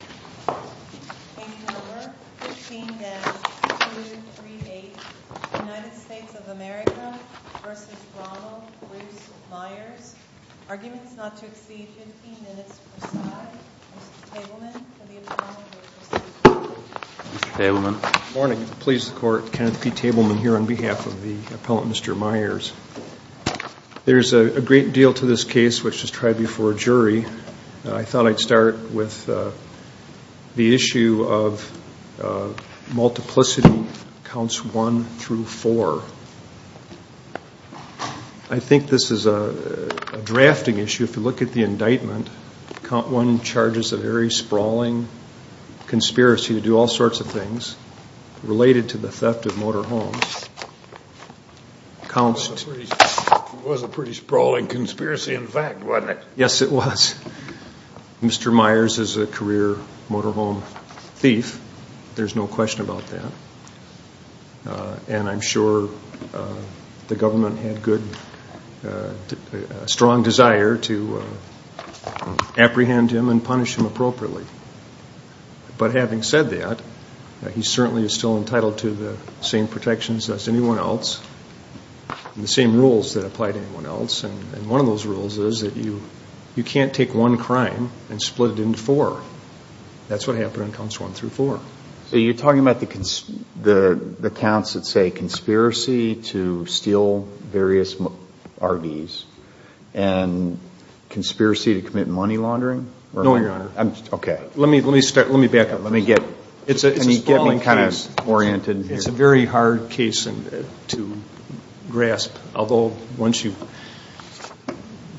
Case No. 15-238, United States of America v. Ronald Bruce Myers, Arguments not to exceed 15 minutes per side. Mr. Tableman for the appellant. Mr. Myers. There's a great deal to this case which has tried before a jury. I thought I'd start with the issue of multiplicity counts 1 through 4. I think this is a drafting issue. If you look at the indictment, count 1 charges a very sprawling conspiracy to do all sorts of things related to the theft of motor homes. It was a pretty sprawling conspiracy in fact wasn't it? Yes it was. Mr. Myers is a career motor home thief. There's no question about that. And I'm sure the government had a strong desire to apprehend him and punish him appropriately. But having said that, he certainly is still entitled to the same protections as anyone else and the same rules that apply to anyone else. And one of those rules is that you can't take one crime and split it into four. That's what happened on counts 1 through 4. So you're talking about the counts that say conspiracy to steal various RVs and conspiracy to commit money laundering? No, Your Honor. Okay. Let me back up. It's a sprawling case. It's a very hard case to grasp. Although once you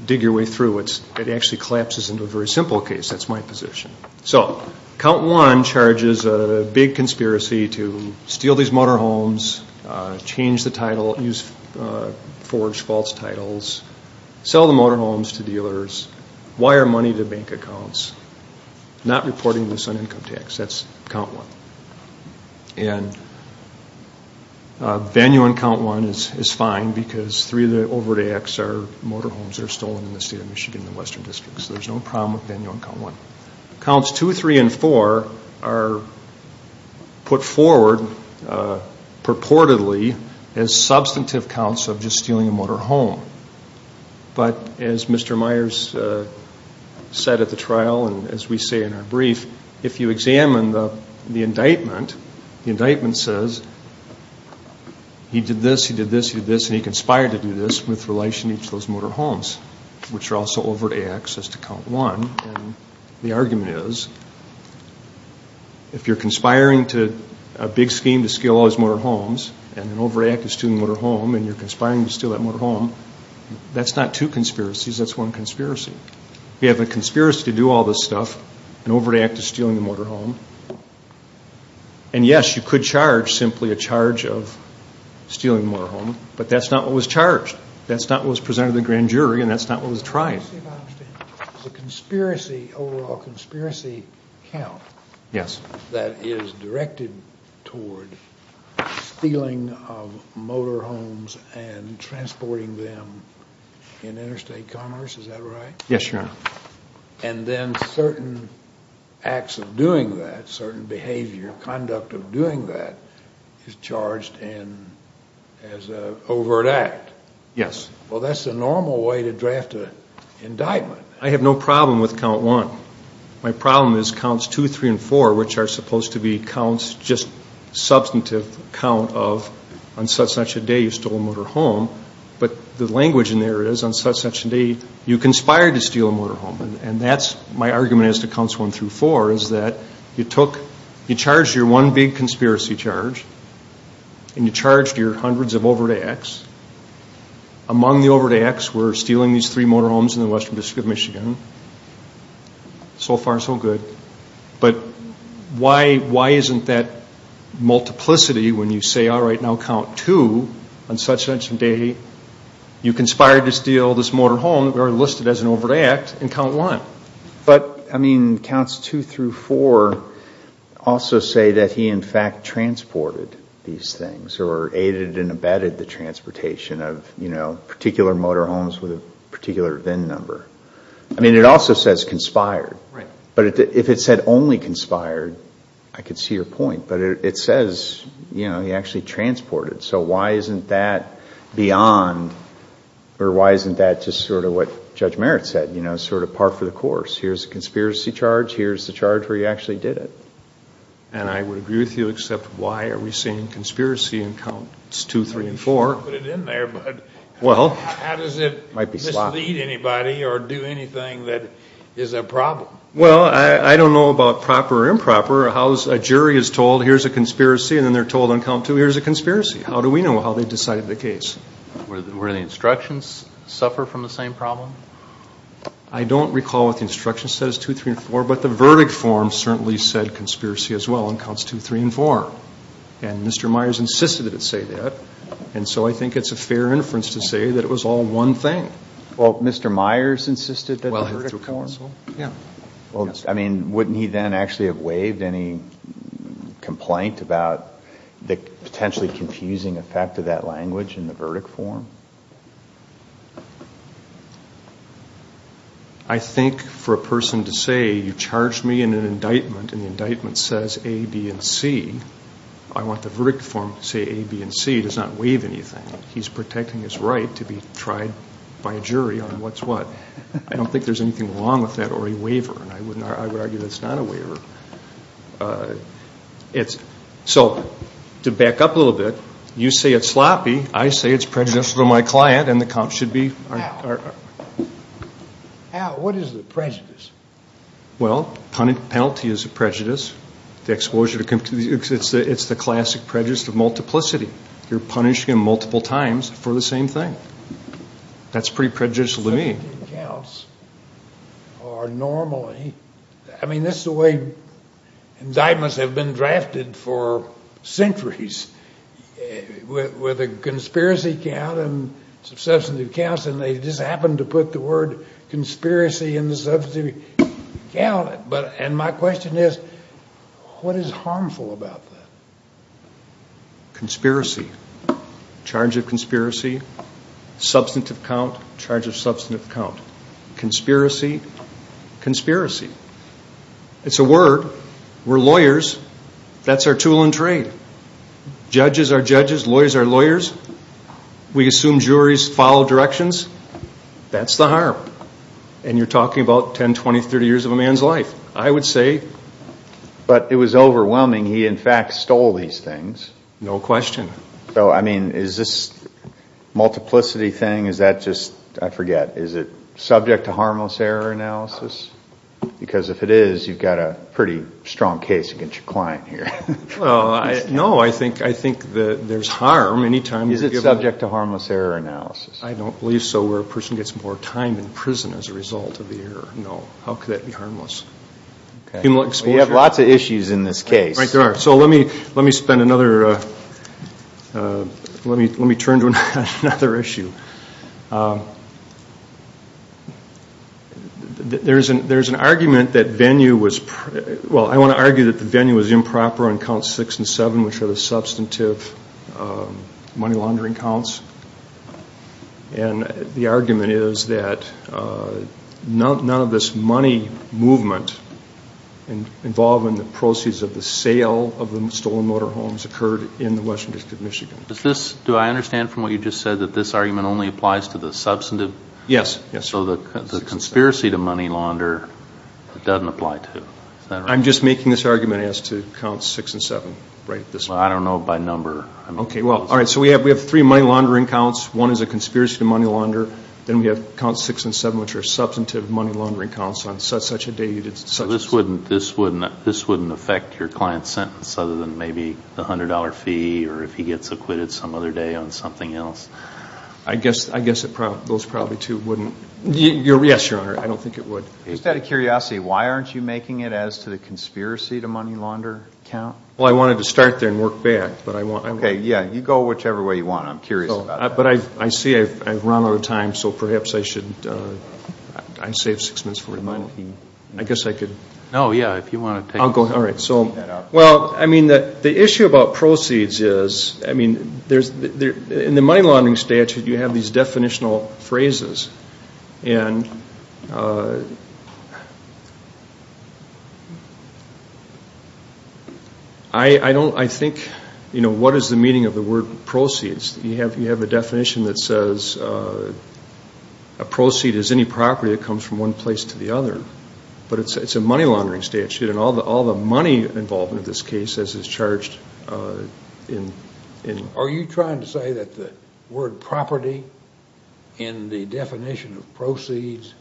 dig your way through it, it actually collapses into a very simple case. That's my position. So count 1 charges a big conspiracy to steal these motor homes, change the title, use forged false titles, sell the motor homes to dealers, wire money to bank accounts, not reporting this on income tax. That's count 1. And venue on count 1 is fine because three of the overt acts are motor homes that are stolen in the state of Michigan in the western districts. There's no problem with venue on count 1. Counts 2, 3, and 4 are put forward purportedly as substantive counts of just stealing a motor home. But as Mr. Myers said at the trial and as we say in our brief, if you examine the indictment, the indictment says he did this, he did this, he did this, and he conspired to do this with relation to each of those motor homes, which are also overt acts as to count 1. And the argument is if you're conspiring to a big scheme to steal all these motor homes and an overt act is stealing a motor home and you're conspiring to steal that motor home, that's not two conspiracies, that's one conspiracy. You have a conspiracy to do all this stuff, an overt act is stealing a motor home, and yes, you could charge simply a charge of stealing a motor home, but that's not what was charged. That's not what was presented to the grand jury and that's not what was tried. The overall conspiracy count that is directed toward stealing of motor homes and transporting them in interstate commerce, is that right? Yes, Your Honor. And then certain acts of doing that, certain behavior, conduct of doing that is charged as an overt act? Yes. Well, that's the normal way to draft an indictment. I have no problem with count 1. My problem is counts 2, 3, and 4, which are supposed to be counts, just substantive count of on such and such a day you stole a motor home, but the language in there is on such and such a day you conspired to steal a motor home. And that's my argument as to counts 1 through 4, is that you took, you charged your one big conspiracy charge and you charged your hundreds of overt acts. Among the overt acts were stealing these three motor homes in the western district of Michigan. So far, so good. But why isn't that multiplicity when you say, all right, now count 2, on such and such a day you conspired to steal this motor home, listed as an overt act, and count 1? But, I mean, counts 2 through 4 also say that he, in fact, transported these things or aided and abetted the transportation of, you know, particular motor homes with a particular VIN number. I mean, it also says conspired. Right. But if it said only conspired, I could see your point. But it says, you know, he actually transported. So why isn't that beyond, or why isn't that just sort of what Judge Merritt said, you know, sort of par for the course? Here's a conspiracy charge. Here's the charge where he actually did it. And I would agree with you except why are we seeing conspiracy in counts 2, 3, and 4? I don't want to put it in there, but how does it mislead anybody or do anything that is a problem? Well, I don't know about proper or improper. A jury is told, here's a conspiracy, and then they're told on count 2, here's a conspiracy. How do we know how they decided the case? Were the instructions separate from the same problem? I don't recall what the instruction says, 2, 3, and 4, but the verdict form certainly said conspiracy as well on counts 2, 3, and 4. And Mr. Myers insisted it say that. And so I think it's a fair inference to say that it was all one thing. Well, Mr. Myers insisted that the verdict form? Yeah. Well, I mean, wouldn't he then actually have waived any complaint about the potentially confusing effect of that language in the verdict form? I think for a person to say, you charged me in an indictment, and the indictment says A, B, and C, I want the verdict form to say A, B, and C. It does not waive anything. He's protecting his right to be tried by a jury on what's what. I don't think there's anything wrong with that or a waiver, and I would argue that's not a waiver. So to back up a little bit, you say it's sloppy. I say it's prejudicial to my client, and the cops should be. Al, what is the prejudice? Well, penalty is a prejudice. It's the classic prejudice of multiplicity. You're punished multiple times for the same thing. That's pretty prejudicial to me. Substantive counts are normally, I mean, this is the way indictments have been drafted for centuries, with a conspiracy count and substantive counts, and they just happen to put the word conspiracy in the substantive count, and my question is, what is harmful about that? Conspiracy. Charge of conspiracy. Substantive count. Charge of substantive count. Conspiracy. Conspiracy. It's a word. We're lawyers. That's our tool in trade. Judges are judges. Lawyers are lawyers. We assume juries follow directions. That's the harm, and you're talking about 10, 20, 30 years of a man's life, I would say. But it was overwhelming. He, in fact, stole these things. No question. So, I mean, is this multiplicity thing, is that just, I forget, is it subject to harmless error analysis? Because if it is, you've got a pretty strong case against your client here. Well, no, I think there's harm. Is it subject to harmless error analysis? I don't believe so, where a person gets more time in prison as a result of the error. No. How could that be harmless? We have lots of issues in this case. Right, there are. So let me spend another, let me turn to another issue. There's an argument that venue was, well, I want to argue that the venue was improper on Counts 6 and 7, which are the substantive money laundering counts. And the argument is that none of this money movement involved in the proceeds of the sale of the stolen motorhomes occurred in the western district of Michigan. Does this, do I understand from what you just said that this argument only applies to the substantive? Yes, yes. So the conspiracy to money launder, it doesn't apply to, is that right? I'm just making this argument as to Counts 6 and 7. Well, I don't know by number. Okay, well, all right, so we have three money laundering counts. One is a conspiracy to money launder. Then we have Counts 6 and 7, which are substantive money laundering counts on such a date. So this wouldn't affect your client's sentence other than maybe the $100 fee or if he gets acquitted some other day on something else? I guess those probably two wouldn't. Yes, Your Honor, I don't think it would. Just out of curiosity, why aren't you making it as to the conspiracy to money launder count? Well, I wanted to start there and work back. Okay, yeah, you go whichever way you want. I'm curious about that. But I see I've run out of time, so perhaps I should, I saved six minutes for him. I guess I could. No, yeah, if you want to take that up. Well, I mean, the issue about proceeds is, I mean, in the money laundering statute you have these definitional phrases. And I think, you know, what is the meaning of the word proceeds? You have a definition that says a proceed is any property that comes from one place to the other. But it's a money laundering statute, and all the money involved in this case is charged in... The definition of proceeds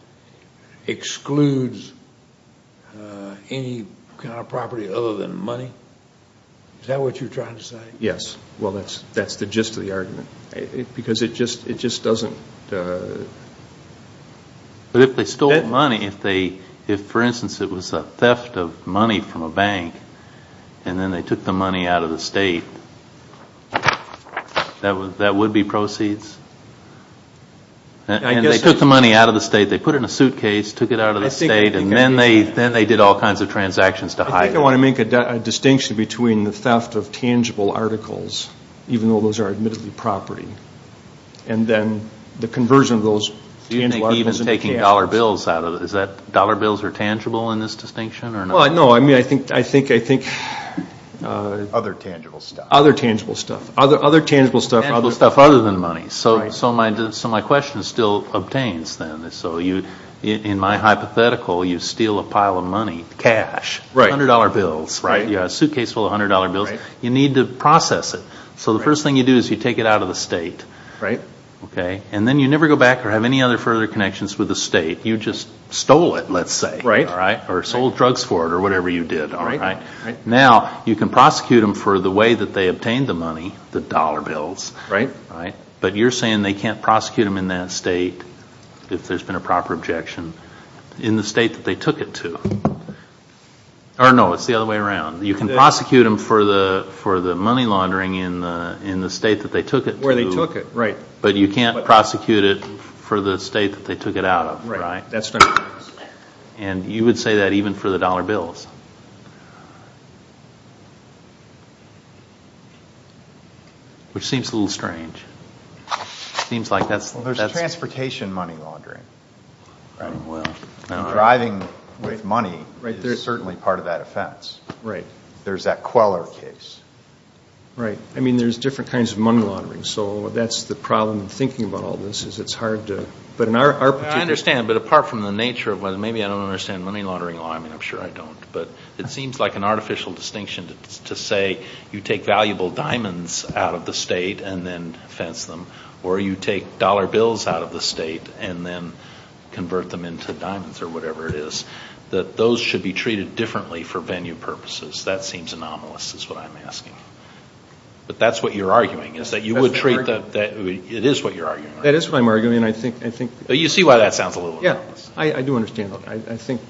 excludes any kind of property other than money? Is that what you're trying to say? Yes. Well, that's the gist of the argument. Because it just doesn't... But if they stole money, if, for instance, it was a theft of money from a bank, and then they took the money out of the state, that would be proceeds? And they took the money out of the state, they put it in a suitcase, took it out of the state, and then they did all kinds of transactions to hide it. I think I want to make a distinction between the theft of tangible articles, even though those are admittedly property, and then the conversion of those... Do you think even taking dollar bills out of it, is that dollar bills are tangible in this distinction or not? Well, no, I mean, I think... Other tangible stuff. Other tangible stuff. Other tangible stuff. Other stuff other than money. So my question still obtains, then. So in my hypothetical, you steal a pile of money, cash, $100 bills. You have a suitcase full of $100 bills. You need to process it. So the first thing you do is you take it out of the state. And then you never go back or have any other further connections with the state. You just stole it, let's say, or sold drugs for it, or whatever you did. Now, you can prosecute them for the way that they obtained the money, the dollar bills. But you're saying they can't prosecute them in that state, if there's been a proper objection, in the state that they took it to. Or, no, it's the other way around. You can prosecute them for the money laundering in the state that they took it to. But you can't prosecute it for the state that they took it out of. And you would say that even for the dollar bills. Which seems a little strange. Well, there's transportation money laundering. Driving with money is certainly part of that offense. There's that Queller case. Right. I mean, there's different kinds of money laundering. So that's the problem in thinking about all this. I understand, but apart from the nature of it, maybe I don't understand money laundering law. I mean, I'm sure I don't. But it seems like an artificial distinction to say you take valuable diamonds out of the state and then fence them. Or you take dollar bills out of the state and then convert them into diamonds, or whatever it is. That those should be treated differently for venue purposes. That seems anomalous, is what I'm asking. But that's what you're arguing. It is what you're arguing. That is what I'm arguing. You see why that sounds a little anomalous. Yeah, I do understand that. I think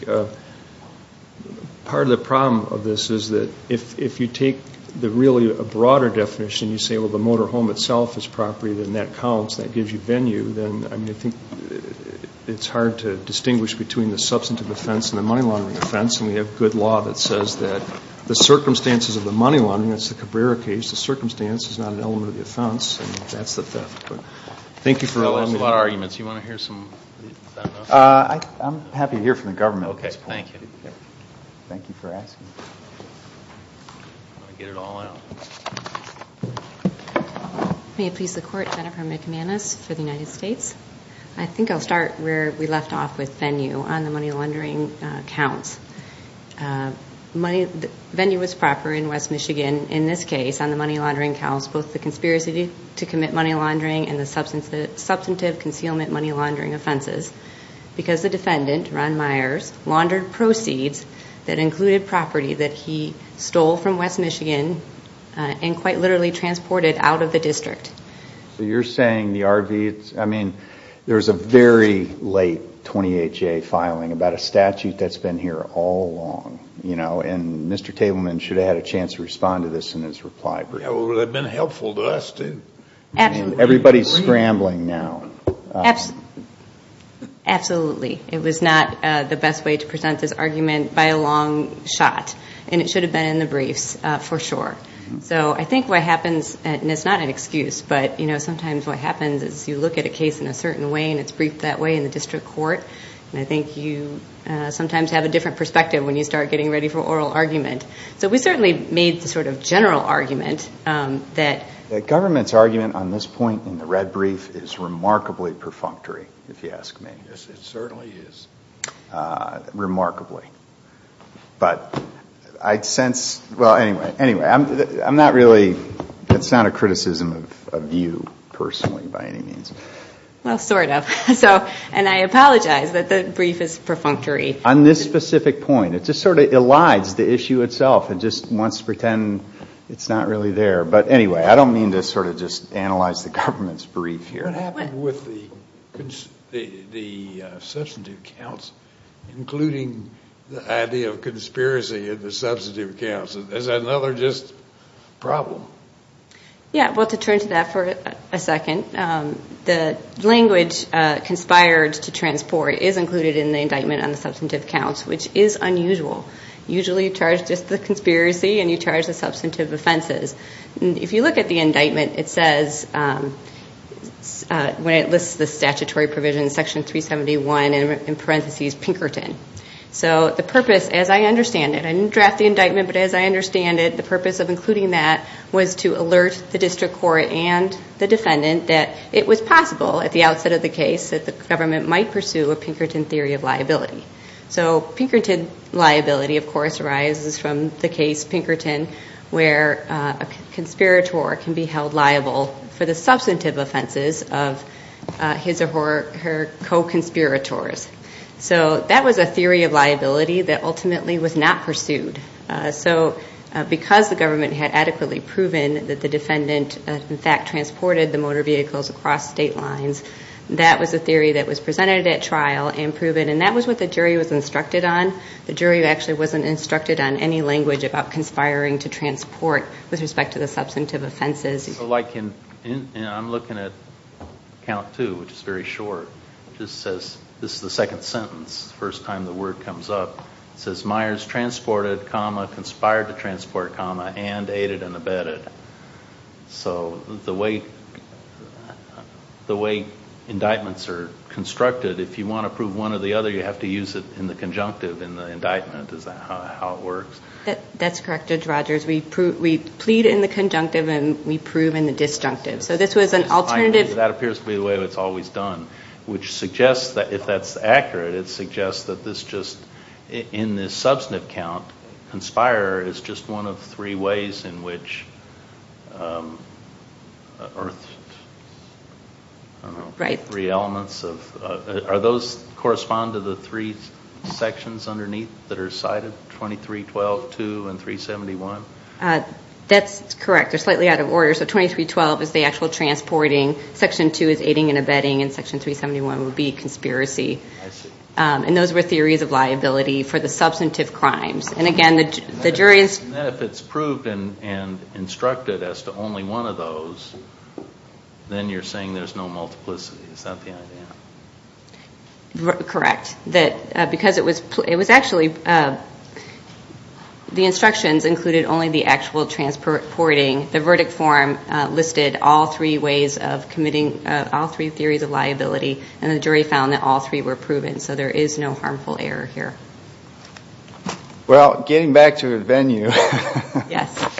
part of the problem of this is that if you take really a broader definition, you say, well, the motor home itself is property, then that counts. That gives you venue. Then I think it's hard to distinguish between the substantive offense and the money laundering offense. And we have good law that says that the circumstances of the money laundering, that's the Cabrera case, the circumstance is not an element of the offense, and that's the theft. Thank you for allowing me. That was a lot of arguments. Do you want to hear some? I'm happy to hear from the government. Okay, thank you. Thank you for asking. May it please the Court, Jennifer McManus for the United States. I think I'll start where we left off with venue on the money laundering counts. Venue was proper in West Michigan. In this case, on the money laundering counts, both the conspiracy to commit money laundering and the substantive concealment money laundering offenses because the defendant, Ron Myers, laundered proceeds that included property that he stole from West Michigan and quite literally transported out of the district. You're saying the RV, I mean, there was a very late 28-J filing about a statute that's been here all along. Mr. Tableman should have had a chance to respond to this in his reply brief. It would have been helpful to us to. Absolutely. Everybody's scrambling now. Absolutely. It was not the best way to present this argument by a long shot, and it should have been in the briefs for sure. So I think what happens, and it's not an excuse, but sometimes what happens is you look at a case in a certain way and it's briefed that way in the district court, and I think you sometimes have a different perspective when you start getting ready for oral argument. So we certainly made the sort of general argument that. The government's argument on this point in the red brief is remarkably perfunctory, if you ask me. It certainly is. Remarkably. But I'd sense, well, anyway, I'm not really, it's not a criticism of you personally by any means. Well, sort of. And I apologize that the brief is perfunctory. On this specific point, it just sort of elides the issue itself and just wants to pretend it's not really there. But anyway, I don't mean to sort of just analyze the government's brief here. What happened with the substantive counts, including the idea of conspiracy in the substantive counts? Is that another just problem? Yeah, well, to turn to that for a second. The language conspired to transport is included in the indictment on the substantive counts, which is unusual. Usually you charge just the conspiracy and you charge the substantive offenses. If you look at the indictment, it says, when it lists the statutory provision, Section 371, in parentheses, Pinkerton. So the purpose, as I understand it, I didn't draft the indictment, but as I understand it, the purpose of including that was to alert the district court and the defendant that it was possible, at the outset of the case, that the government might pursue a Pinkerton theory of liability. So Pinkerton liability, of course, arises from the case Pinkerton, where a conspirator can be held liable for the substantive offenses of his or her co-conspirators. So that was a theory of liability that ultimately was not pursued. So because the government had adequately proven that the defendant, in fact, transported the motor vehicles across state lines, that was a theory that was presented at trial and proven, and that was what the jury was instructed on. The jury actually wasn't instructed on any language about conspiring to transport with respect to the substantive offenses. So, like, I'm looking at Count 2, which is very short. It just says, this is the second sentence, first time the word comes up. It says, Myers transported, conspired to transport, and aided and abetted. So the way indictments are constructed, if you want to prove one or the other, you have to use it in the conjunctive in the indictment is how it works. That's correct, Judge Rogers. We plead in the conjunctive and we prove in the disjunctive. So this was an alternative. That appears to be the way it's always done, which suggests that, if that's accurate, it suggests that this just, in this substantive count, conspire is just one of three ways in which earthed, I don't know, three elements of, are those correspond to the three sections underneath that are cited, 2312, 2, and 371? That's correct. They're slightly out of order. So 2312 is the actual transporting, Section 2 is aiding and abetting, and Section 371 would be conspiracy. I see. And those were theories of liability for the substantive crimes. And, again, the jury is... If it's proved and instructed as to only one of those, then you're saying there's no multiplicity. Is that the idea? Correct. Because it was actually, the instructions included only the actual transporting. And the jury found that all three were proven, so there is no harmful error here. Well, getting back to the venue... Yes.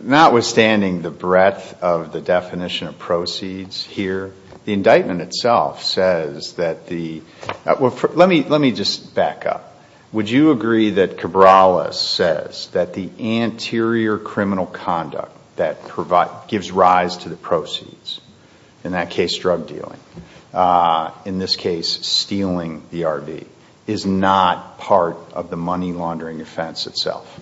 Notwithstanding the breadth of the definition of proceeds here, the indictment itself says that the... Let me just back up. Would you agree that Cabrales says that the anterior criminal conduct that gives rise to the proceeds, in that case drug dealing, in this case stealing the RV, is not part of the money laundering offense itself?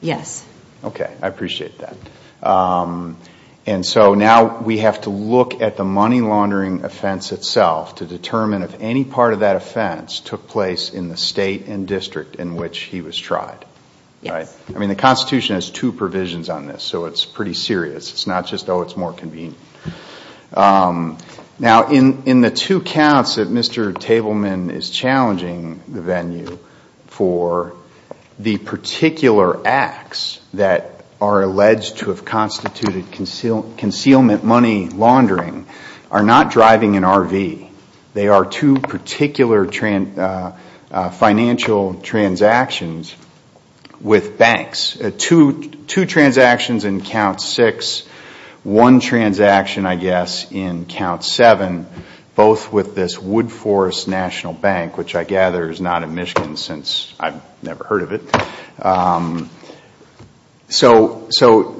Yes. Okay. I appreciate that. And so now we have to look at the money laundering offense itself to determine if any part of that offense took place in the state and district in which he was tried. Yes. I mean, the Constitution has two provisions on this, so it's pretty serious. It's not just, oh, it's more convenient. Now, in the two counts that Mr. Tableman is challenging the venue for, the particular acts that are alleged to have constituted concealment money laundering are not driving an RV. They are two particular financial transactions with banks. Two transactions in count six, one transaction, I guess, in count seven, both with this Wood Forest National Bank, which I gather is not in Michigan since I've never heard of it. So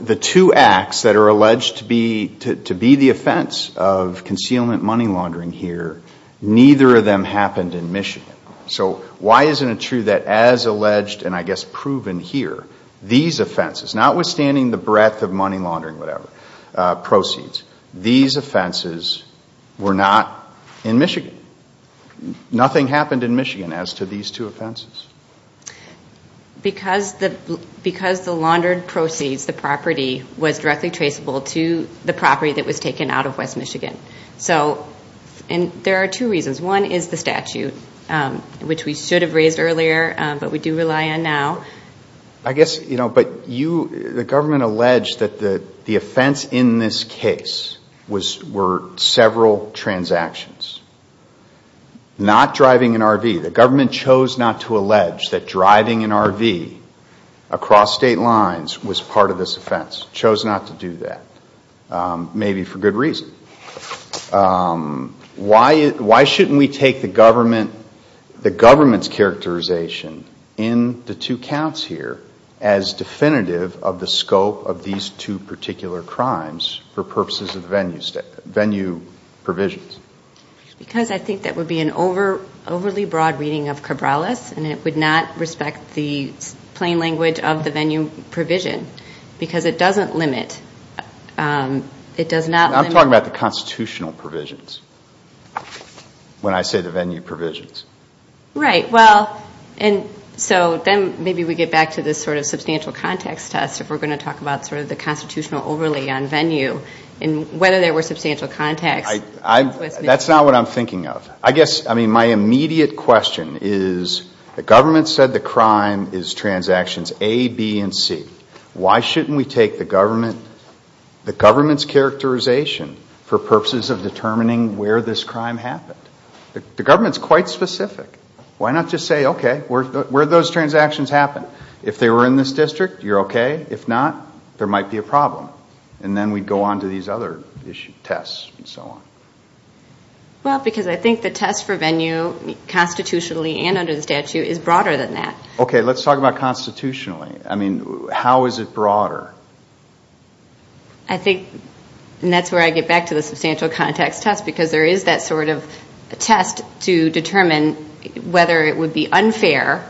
the two acts that are alleged to be the offense of concealment money laundering here, neither of them happened in Michigan. So why isn't it true that as alleged and, I guess, proven here, these offenses, notwithstanding the breadth of money laundering, whatever, proceeds, these offenses were not in Michigan? Nothing happened in Michigan as to these two offenses? Because the laundered proceeds, the property, was directly traceable to the property that was taken out of West Michigan. And there are two reasons. One is the statute, which we should have raised earlier, but we do rely on now. I guess, you know, but the government alleged that the offense in this case were several transactions, not driving an RV. The government chose not to allege that driving an RV across state lines was part of this offense, chose not to do that, maybe for good reason. Why shouldn't we take the government's characterization in the two counts here as definitive of the scope of these two particular crimes for purposes of the venue provisions? Because I think that would be an overly broad reading of Cabrales, and it would not respect the plain language of the venue provision because it doesn't limit. I'm talking about the constitutional provisions when I say the venue provisions. Right. Well, and so then maybe we get back to this sort of substantial context test, if we're going to talk about sort of the constitutional overlay on venue and whether there were substantial context. That's not what I'm thinking of. I guess, I mean, my immediate question is the government said the crime is transactions A, B, and C. Why shouldn't we take the government's characterization for purposes of determining where this crime happened? The government's quite specific. Why not just say, okay, where did those transactions happen? If they were in this district, you're okay. If not, there might be a problem. And then we'd go on to these other tests and so on. Well, because I think the test for venue constitutionally and under the statute is broader than that. Okay, let's talk about constitutionally. I mean, how is it broader? I think, and that's where I get back to the substantial context test, because there is that sort of test to determine whether it would be unfair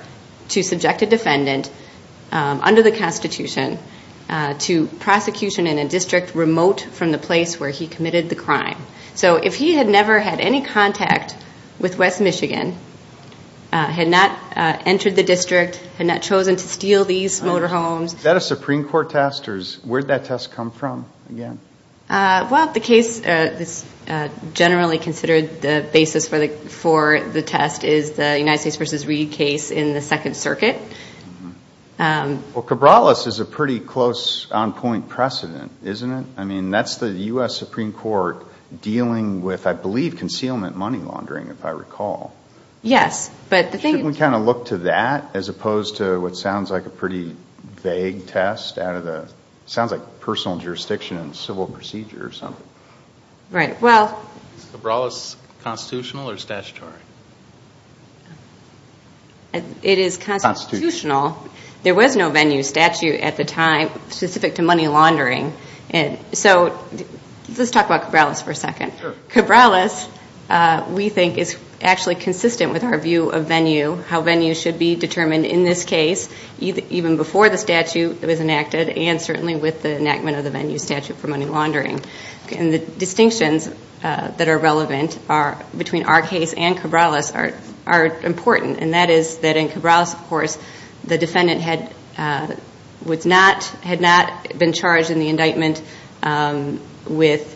to subject a defendant under the Constitution to prosecution in a district remote from the place where he committed the crime. So if he had never had any contact with West Michigan, had not entered the district, had not chosen to steal these motorhomes. Is that a Supreme Court test, or where did that test come from again? Well, the case that's generally considered the basis for the test is the United States v. Reed case in the Second Circuit. Well, Cabrales is a pretty close on-point precedent, isn't it? I mean, that's the U.S. Supreme Court dealing with, I believe, concealment money laundering, if I recall. Yes. Shouldn't we kind of look to that as opposed to what sounds like a pretty vague test out of the, sounds like personal jurisdiction and civil procedure or something? Right, well. Is Cabrales constitutional or statutory? It is constitutional. There was no venue statute at the time specific to money laundering. So let's talk about Cabrales for a second. Sure. Cabrales, we think, is actually consistent with our view of venue, how venue should be determined in this case even before the statute was enacted and certainly with the enactment of the venue statute for money laundering. And the distinctions that are relevant between our case and Cabrales are important, and that is that in Cabrales, of course, the defendant had not been charged in the indictment with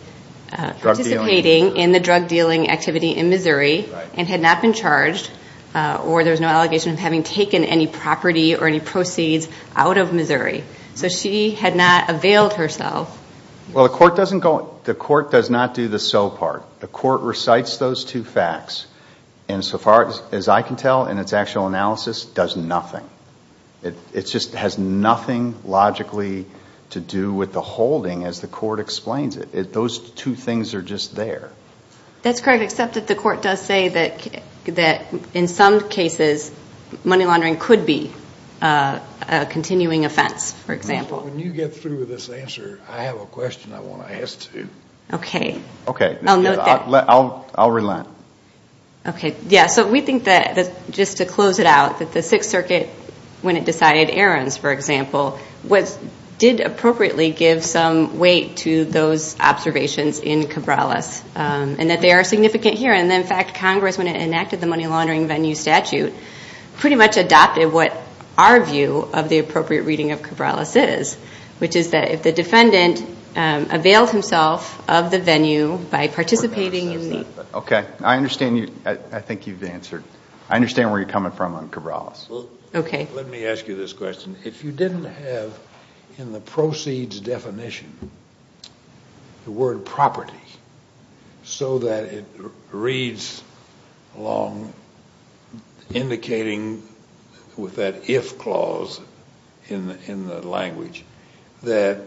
participating in the drug dealing activity in Missouri and had not been charged or there was no allegation of having taken any property or any proceeds out of Missouri. So she had not availed herself. Well, the court does not do the so part. The court recites those two facts, and so far as I can tell in its actual analysis, does nothing. It just has nothing logically to do with the holding as the court explains it. Those two things are just there. That's correct, except that the court does say that in some cases money laundering could be a continuing offense, for example. When you get through with this answer, I have a question I want to ask too. Okay. I'll note that. I'll relent. Okay. Yeah, so we think that just to close it out, that the Sixth Circuit, when it decided errands, for example, did appropriately give some weight to those observations in Cabrales and that they are significant here. And, in fact, Congress, when it enacted the money laundering venue statute, pretty much adopted what our view of the appropriate reading of Cabrales is, which is that if the defendant availed himself of the venue by participating in the venue. Okay. I understand you. I think you've answered. I understand where you're coming from on Cabrales. Okay. Let me ask you this question. If you didn't have, in the proceeds definition, the word property, so that it reads along indicating with that if clause in the language, that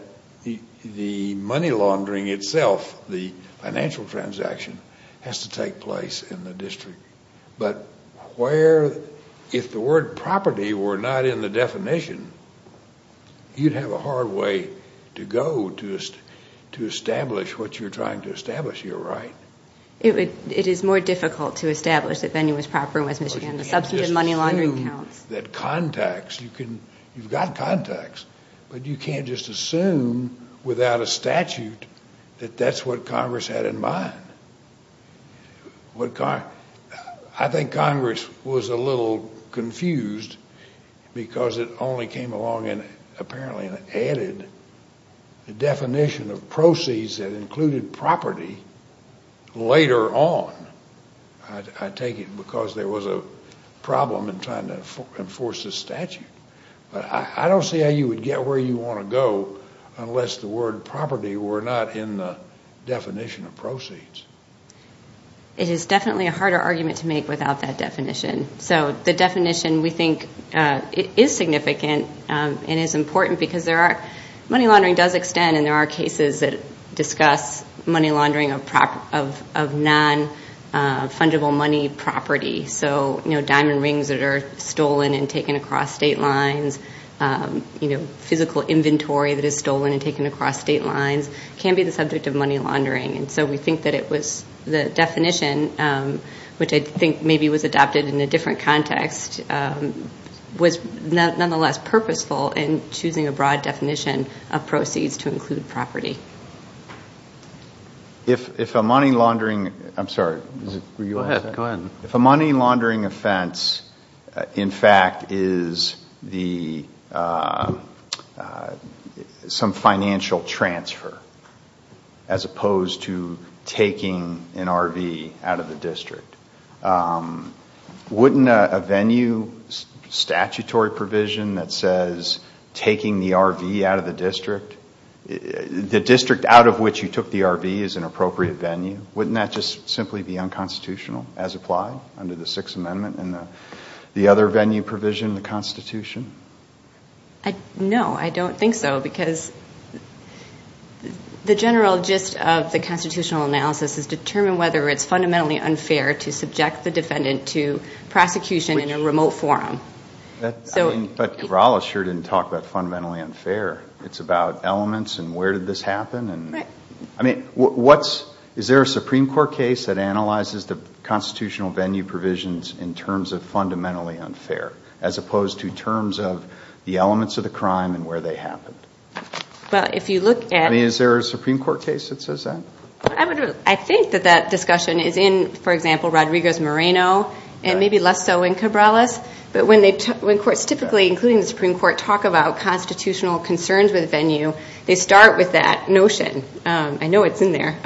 the money laundering itself, the financial transaction, has to take place in the district. But where, if the word property were not in the definition, you'd have a hard way to go to establish what you're trying to establish here, right? It is more difficult to establish that venue is proper in West Michigan. The substantive money laundering counts. You can't just assume that contacts, you've got contacts, but you can't just assume without a statute that that's what Congress had in mind. I think Congress was a little confused because it only came along apparently and added the definition of proceeds that included property later on, I take it, because there was a problem in trying to enforce the statute. But I don't see how you would get where you want to go unless the word property were not in the definition of proceeds. It is definitely a harder argument to make without that definition. So the definition, we think, is significant and is important because money laundering does extend, and there are cases that discuss money laundering of non-fungible money property, so diamond rings that are stolen and taken across state lines, physical inventory that is stolen and taken across state lines can be the subject of money laundering. And so we think that the definition, which I think maybe was adopted in a different context, was nonetheless purposeful in choosing a broad definition of proceeds to include property. If a money laundering offense, in fact, is some financial transfer as opposed to taking an RV out of the district, wouldn't a venue statutory provision that says taking the RV out of the district, the district out of which you took the RV is an appropriate venue, wouldn't that just simply be unconstitutional as applied under the Sixth Amendment and the other venue provision in the Constitution? No, I don't think so because the general gist of the constitutional analysis is determine whether it's fundamentally unfair to subject the defendant to prosecution in a remote forum. But Cabrales sure didn't talk about fundamentally unfair. It's about elements and where did this happen. Is there a Supreme Court case that analyzes the constitutional venue provisions in terms of fundamentally unfair as opposed to terms of the elements of the crime and where they happened? Is there a Supreme Court case that says that? I think that that discussion is in, for example, Rodriguez-Moreno and maybe less so in Cabrales, but when courts typically, including the Supreme Court, talk about constitutional concerns with venue, they start with that notion, I know it's in there,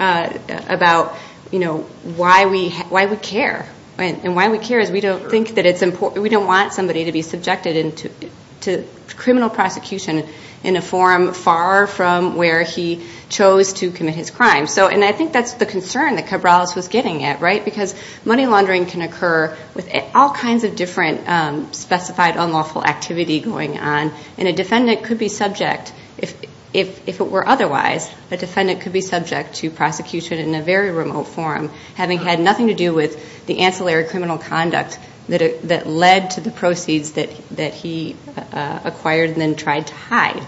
about why we care. And why we care is we don't want somebody to be subjected to criminal prosecution in a forum far from where he chose to commit his crime. And I think that's the concern that Cabrales was getting at, right? Because money laundering can occur with all kinds of different specified unlawful activity going on. And a defendant could be subject, if it were otherwise, a defendant could be subject to prosecution in a very remote forum, having had nothing to do with the ancillary criminal conduct that led to the proceeds that he acquired and then tried to hide.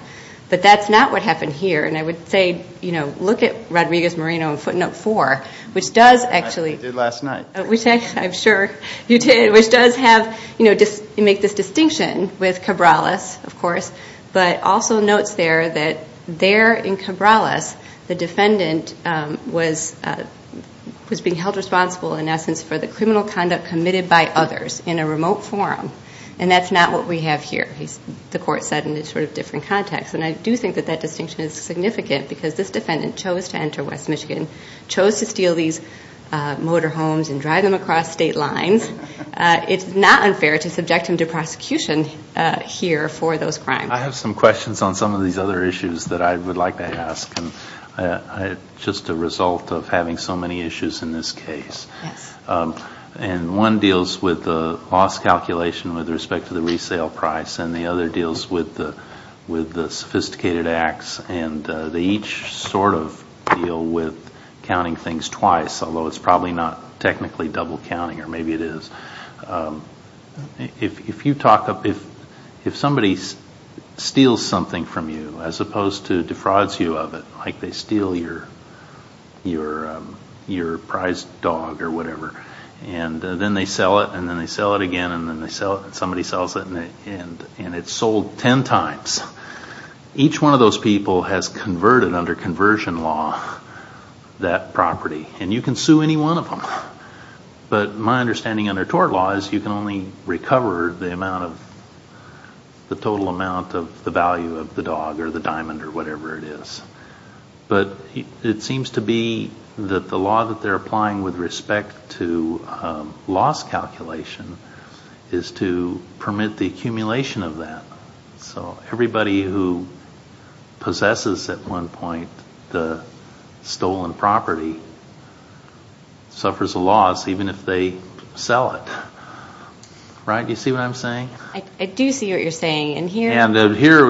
But that's not what happened here. And I would say, you know, look at Rodriguez-Moreno in footnote four, which does actually. I did last night. Which I'm sure you did, which does have, you know, make this distinction with Cabrales, of course, but also notes there that there in Cabrales, the defendant was being held responsible, in essence, for the criminal conduct committed by others in a remote forum. And that's not what we have here, the court said in a sort of different context. And I do think that that distinction is significant because this defendant chose to enter West Michigan, chose to steal these motor homes and drive them across state lines. It's not unfair to subject him to prosecution here for those crimes. I have some questions on some of these other issues that I would like to ask, and just a result of having so many issues in this case. Yes. And one deals with the loss calculation with respect to the resale price, and the other deals with the sophisticated acts, and they each sort of deal with counting things twice, although it's probably not technically double counting, or maybe it is. If you talk up, if somebody steals something from you, as opposed to defrauds you of it, like they steal your prized dog or whatever, and then they sell it, and then they sell it again, and then somebody sells it, and it's sold ten times. Each one of those people has converted under conversion law that property, and you can sue any one of them. But my understanding under tort law is you can only recover the total amount of the value of the dog or the diamond or whatever it is. But it seems to be that the law that they're applying with respect to loss calculation is to permit the accumulation of that. So everybody who possesses at one point the stolen property suffers a loss even if they sell it. Right? Do you see what I'm saying? I do see what you're saying. And here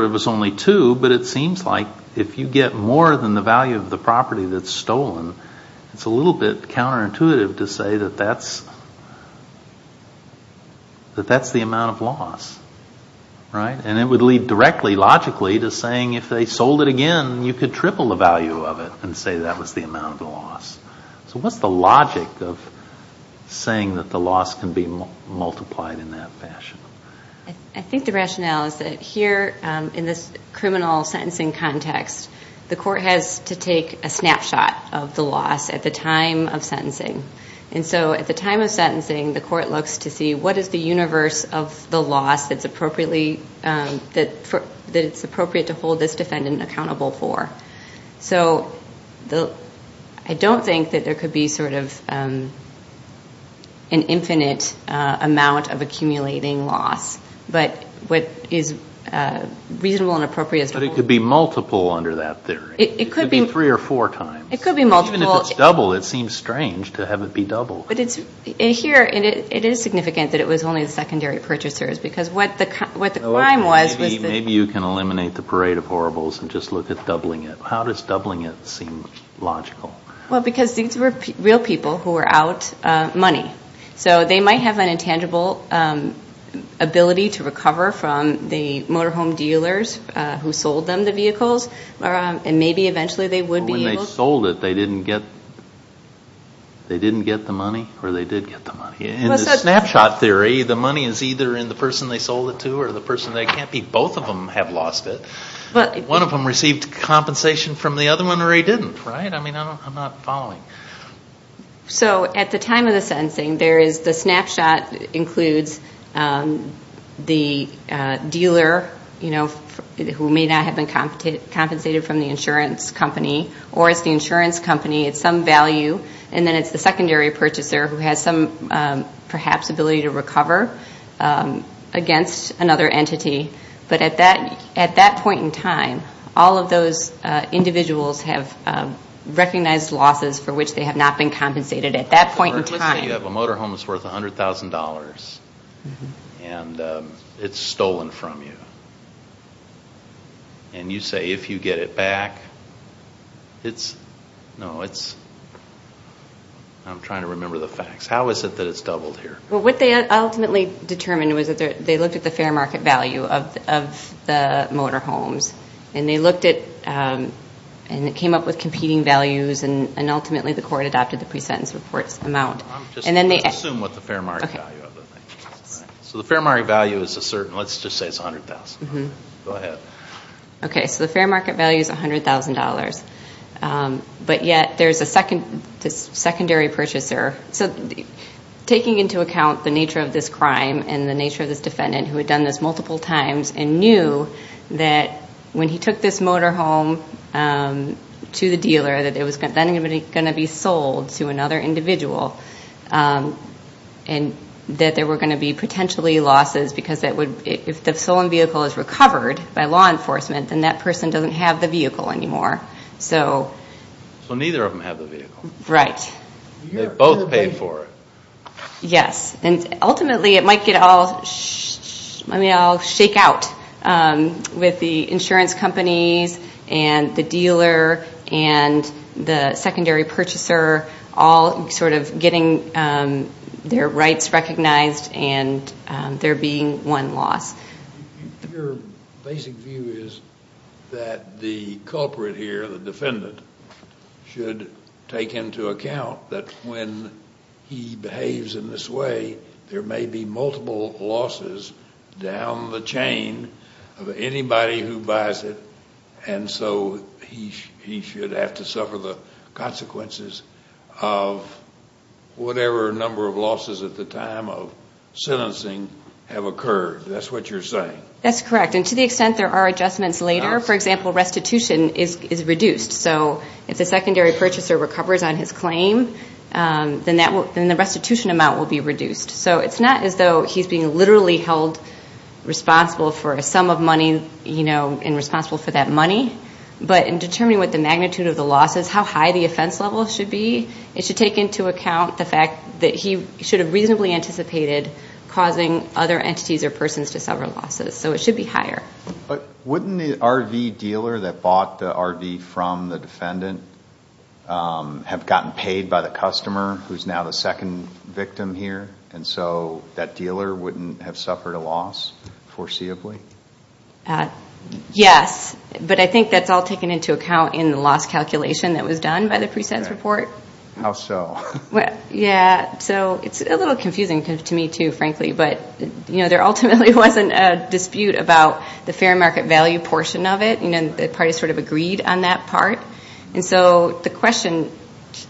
it was only two, but it seems like if you get more than the value of the property that's stolen, it's a little bit counterintuitive to say that that's the amount of loss. And it would lead directly, logically, to saying if they sold it again, you could triple the value of it and say that was the amount of the loss. So what's the logic of saying that the loss can be multiplied in that fashion? I think the rationale is that here in this criminal sentencing context, the court has to take a snapshot of the loss at the time of sentencing. And so at the time of sentencing, the court looks to see what is the universe of the loss that it's appropriate to hold this defendant accountable for. So I don't think that there could be sort of an infinite amount of accumulating loss. But what is reasonable and appropriate is to hold... But it could be multiple under that theory. It could be... It could be three or four times. It could be multiple. Even if it's double, it seems strange to have it be double. But here it is significant that it was only the secondary purchasers because what the crime was... Maybe you can eliminate the parade of horribles and just look at doubling it. How does doubling it seem logical? Well, because these were real people who were out money. So they might have an intangible ability to recover from the motorhome dealers who sold them the vehicles. And maybe eventually they would be able to... When they sold it, they didn't get the money? Or they did get the money? In the snapshot theory, the money is either in the person they sold it to or the person they can't be. Both of them have lost it. One of them received compensation from the other one or he didn't. Right? I mean, I'm not following. So at the time of the sentencing, there is the snapshot includes the dealer, you know, who may not have been compensated from the insurance company. Or it's the insurance company. It's some value. And then it's the secondary purchaser who has some, perhaps, ability to recover against another entity. But at that point in time, all of those individuals have recognized losses for which they have not been compensated at that point in time. Let's say you have a motorhome that's worth $100,000 and it's stolen from you. And you say, if you get it back, it's... No, it's... I'm trying to remember the facts. How is it that it's doubled here? Well, what they ultimately determined was that they looked at the fair market value of the motorhomes. And they looked at... And it came up with competing values. And ultimately, the court adopted the pre-sentence report's amount. I'm just going to assume what the fair market value of it is. So the fair market value is a certain... Go ahead. Okay, so the fair market value is $100,000. But yet, there's a secondary purchaser. So taking into account the nature of this crime and the nature of this defendant who had done this multiple times and knew that when he took this motorhome to the dealer that it was then going to be sold to another individual and that there were going to be potentially losses because if the stolen vehicle is recovered by law enforcement, then that person doesn't have the vehicle anymore. So neither of them have the vehicle. Right. They both paid for it. Yes. And ultimately, it might get all shake out with the insurance companies and the dealer and the secondary purchaser all sort of getting their rights recognized and there being one loss. Your basic view is that the culprit here, the defendant, should take into account that when he behaves in this way, there may be multiple losses down the chain of anybody who buys it, and so he should have to suffer the consequences of whatever number of losses at the time of sentencing have occurred. That's what you're saying. That's correct. And to the extent there are adjustments later, for example, restitution is reduced. So if the secondary purchaser recovers on his claim, then the restitution amount will be reduced. So it's not as though he's being literally held responsible for a sum of money and responsible for that money, but in determining what the magnitude of the loss is, how high the offense level should be, it should take into account the fact that he should have reasonably anticipated causing other entities or persons to suffer losses, so it should be higher. Wouldn't the RV dealer that bought the RV from the defendant have gotten paid by the customer, who's now the second victim here, and so that dealer wouldn't have suffered a loss foreseeably? Yes, but I think that's all taken into account in the loss calculation that was done by the presense report. How so? Yeah, so it's a little confusing to me, too, frankly, but there ultimately wasn't a dispute about the fair market value portion of it. The parties sort of agreed on that part. And so the question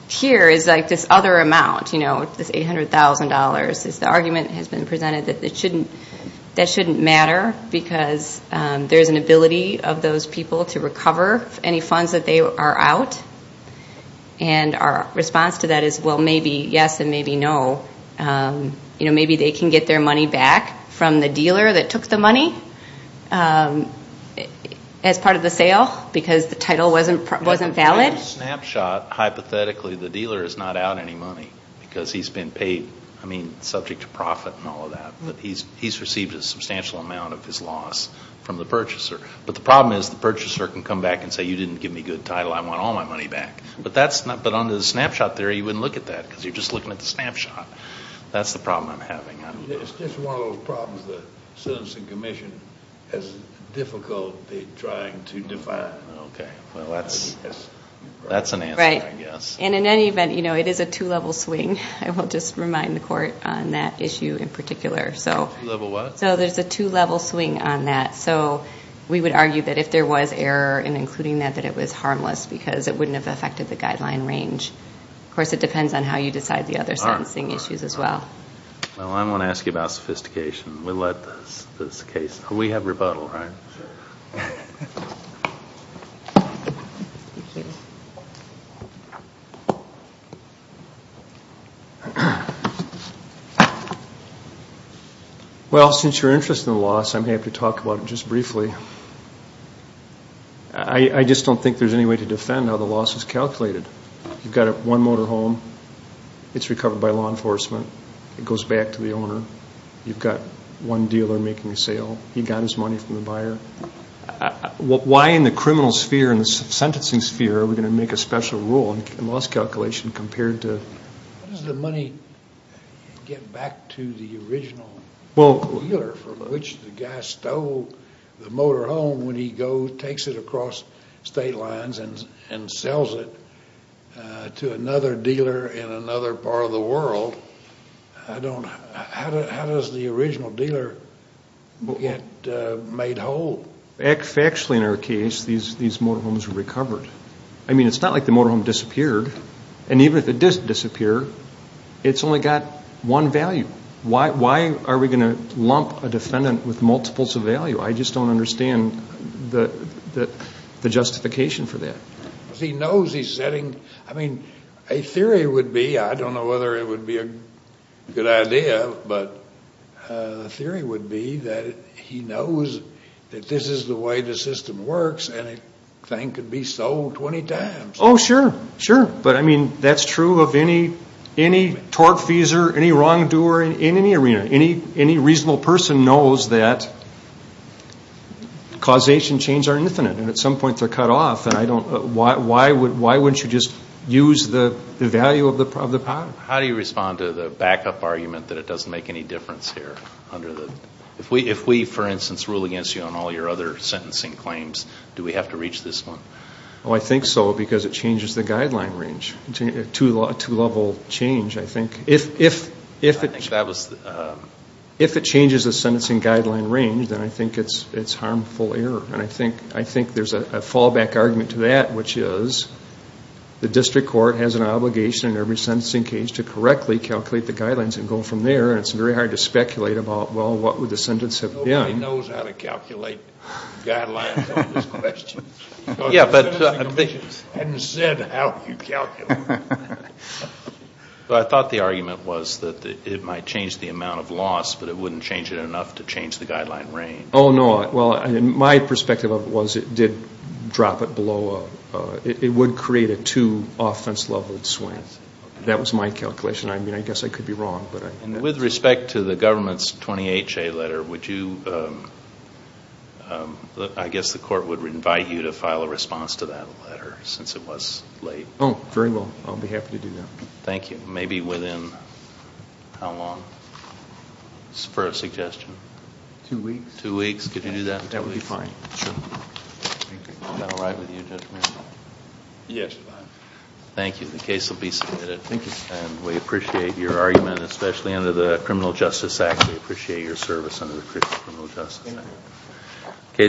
here is this other amount, this $800,000. The argument has been presented that that shouldn't matter because there's an ability of those people to recover any funds that they are out, and our response to that is, well, maybe yes and maybe no. Maybe they can get their money back from the dealer that took the money as part of the sale because the title wasn't valid. Under the snapshot, hypothetically, the dealer is not out any money because he's been paid, I mean, subject to profit and all of that, but he's received a substantial amount of his loss from the purchaser. But the problem is the purchaser can come back and say, you didn't give me good title, I want all my money back. But under the snapshot theory, you wouldn't look at that because you're just looking at the snapshot. That's the problem I'm having. It's just one of those problems that Citizens Commission has difficulty trying to define. Well, that's an answer, I guess. And in any event, it is a two-level swing. I will just remind the court on that issue in particular. Two-level what? So there's a two-level swing on that. So we would argue that if there was error in including that, that it was harmless because it wouldn't have affected the guideline range. Of course, it depends on how you decide the other sentencing issues as well. Well, I'm going to ask you about sophistication. We'll let this case. We have rebuttal, right? Sure. Well, since you're interested in the loss, I'm going to have to talk about it just briefly. I just don't think there's any way to defend how the loss is calculated. You've got one motor home. It goes back to the owner. You've got one dealer making a sale. He got his money from the buyer. Why in the criminal sphere, in the sentencing sphere, are we going to make a special rule in loss calculation compared to? How does the money get back to the original dealer from which the guy stole the motor home when he goes, takes it across state lines and sells it to another dealer in another part of the world? I don't know. How does the original dealer get made whole? Actually, in our case, these motor homes recovered. I mean, it's not like the motor home disappeared. And even if it did disappear, it's only got one value. Why are we going to lump a defendant with multiples of value? I just don't understand the justification for that. He knows he's setting, I mean, a theory would be, I don't know whether it would be a good idea, but the theory would be that he knows that this is the way the system works, and a thing could be sold 20 times. Oh, sure, sure. But, I mean, that's true of any tortfeasor, any wrongdoer in any arena. Any reasonable person knows that causation chains are infinite, and at some point they're cut off. Why wouldn't you just use the value of the pot? How do you respond to the backup argument that it doesn't make any difference here? If we, for instance, rule against you on all your other sentencing claims, do we have to reach this one? Oh, I think so, because it changes the guideline range. A two-level change, I think. If it changes the sentencing guideline range, then I think it's harmful error. And I think there's a fallback argument to that, which is the district court has an obligation in every sentencing case to correctly calculate the guidelines and go from there, and it's very hard to speculate about, well, what would the sentence have been. Nobody knows how to calculate guidelines on this question. Because the sentencing commission hasn't said how you calculate it. I thought the argument was that it might change the amount of loss, but it wouldn't change it enough to change the guideline range. Oh, no. Well, my perspective of it was it did drop it below a – it would create a too offense-level swing. That was my calculation. I mean, I guess I could be wrong. With respect to the government's 20HA letter, would you – I guess the court would invite you to file a response to that letter, since it was late. Oh, very well. I'll be happy to do that. Thank you. Maybe within how long for a suggestion? Two weeks. Two weeks. Could you do that in two weeks? That would be fine. Sure. Thank you. Is that all right with you, Judge Mayer? Yes. Thank you. The case will be submitted. Thank you. And we appreciate your argument, especially under the Criminal Justice Act. We appreciate your service under the Criminal Justice Act. Thank you.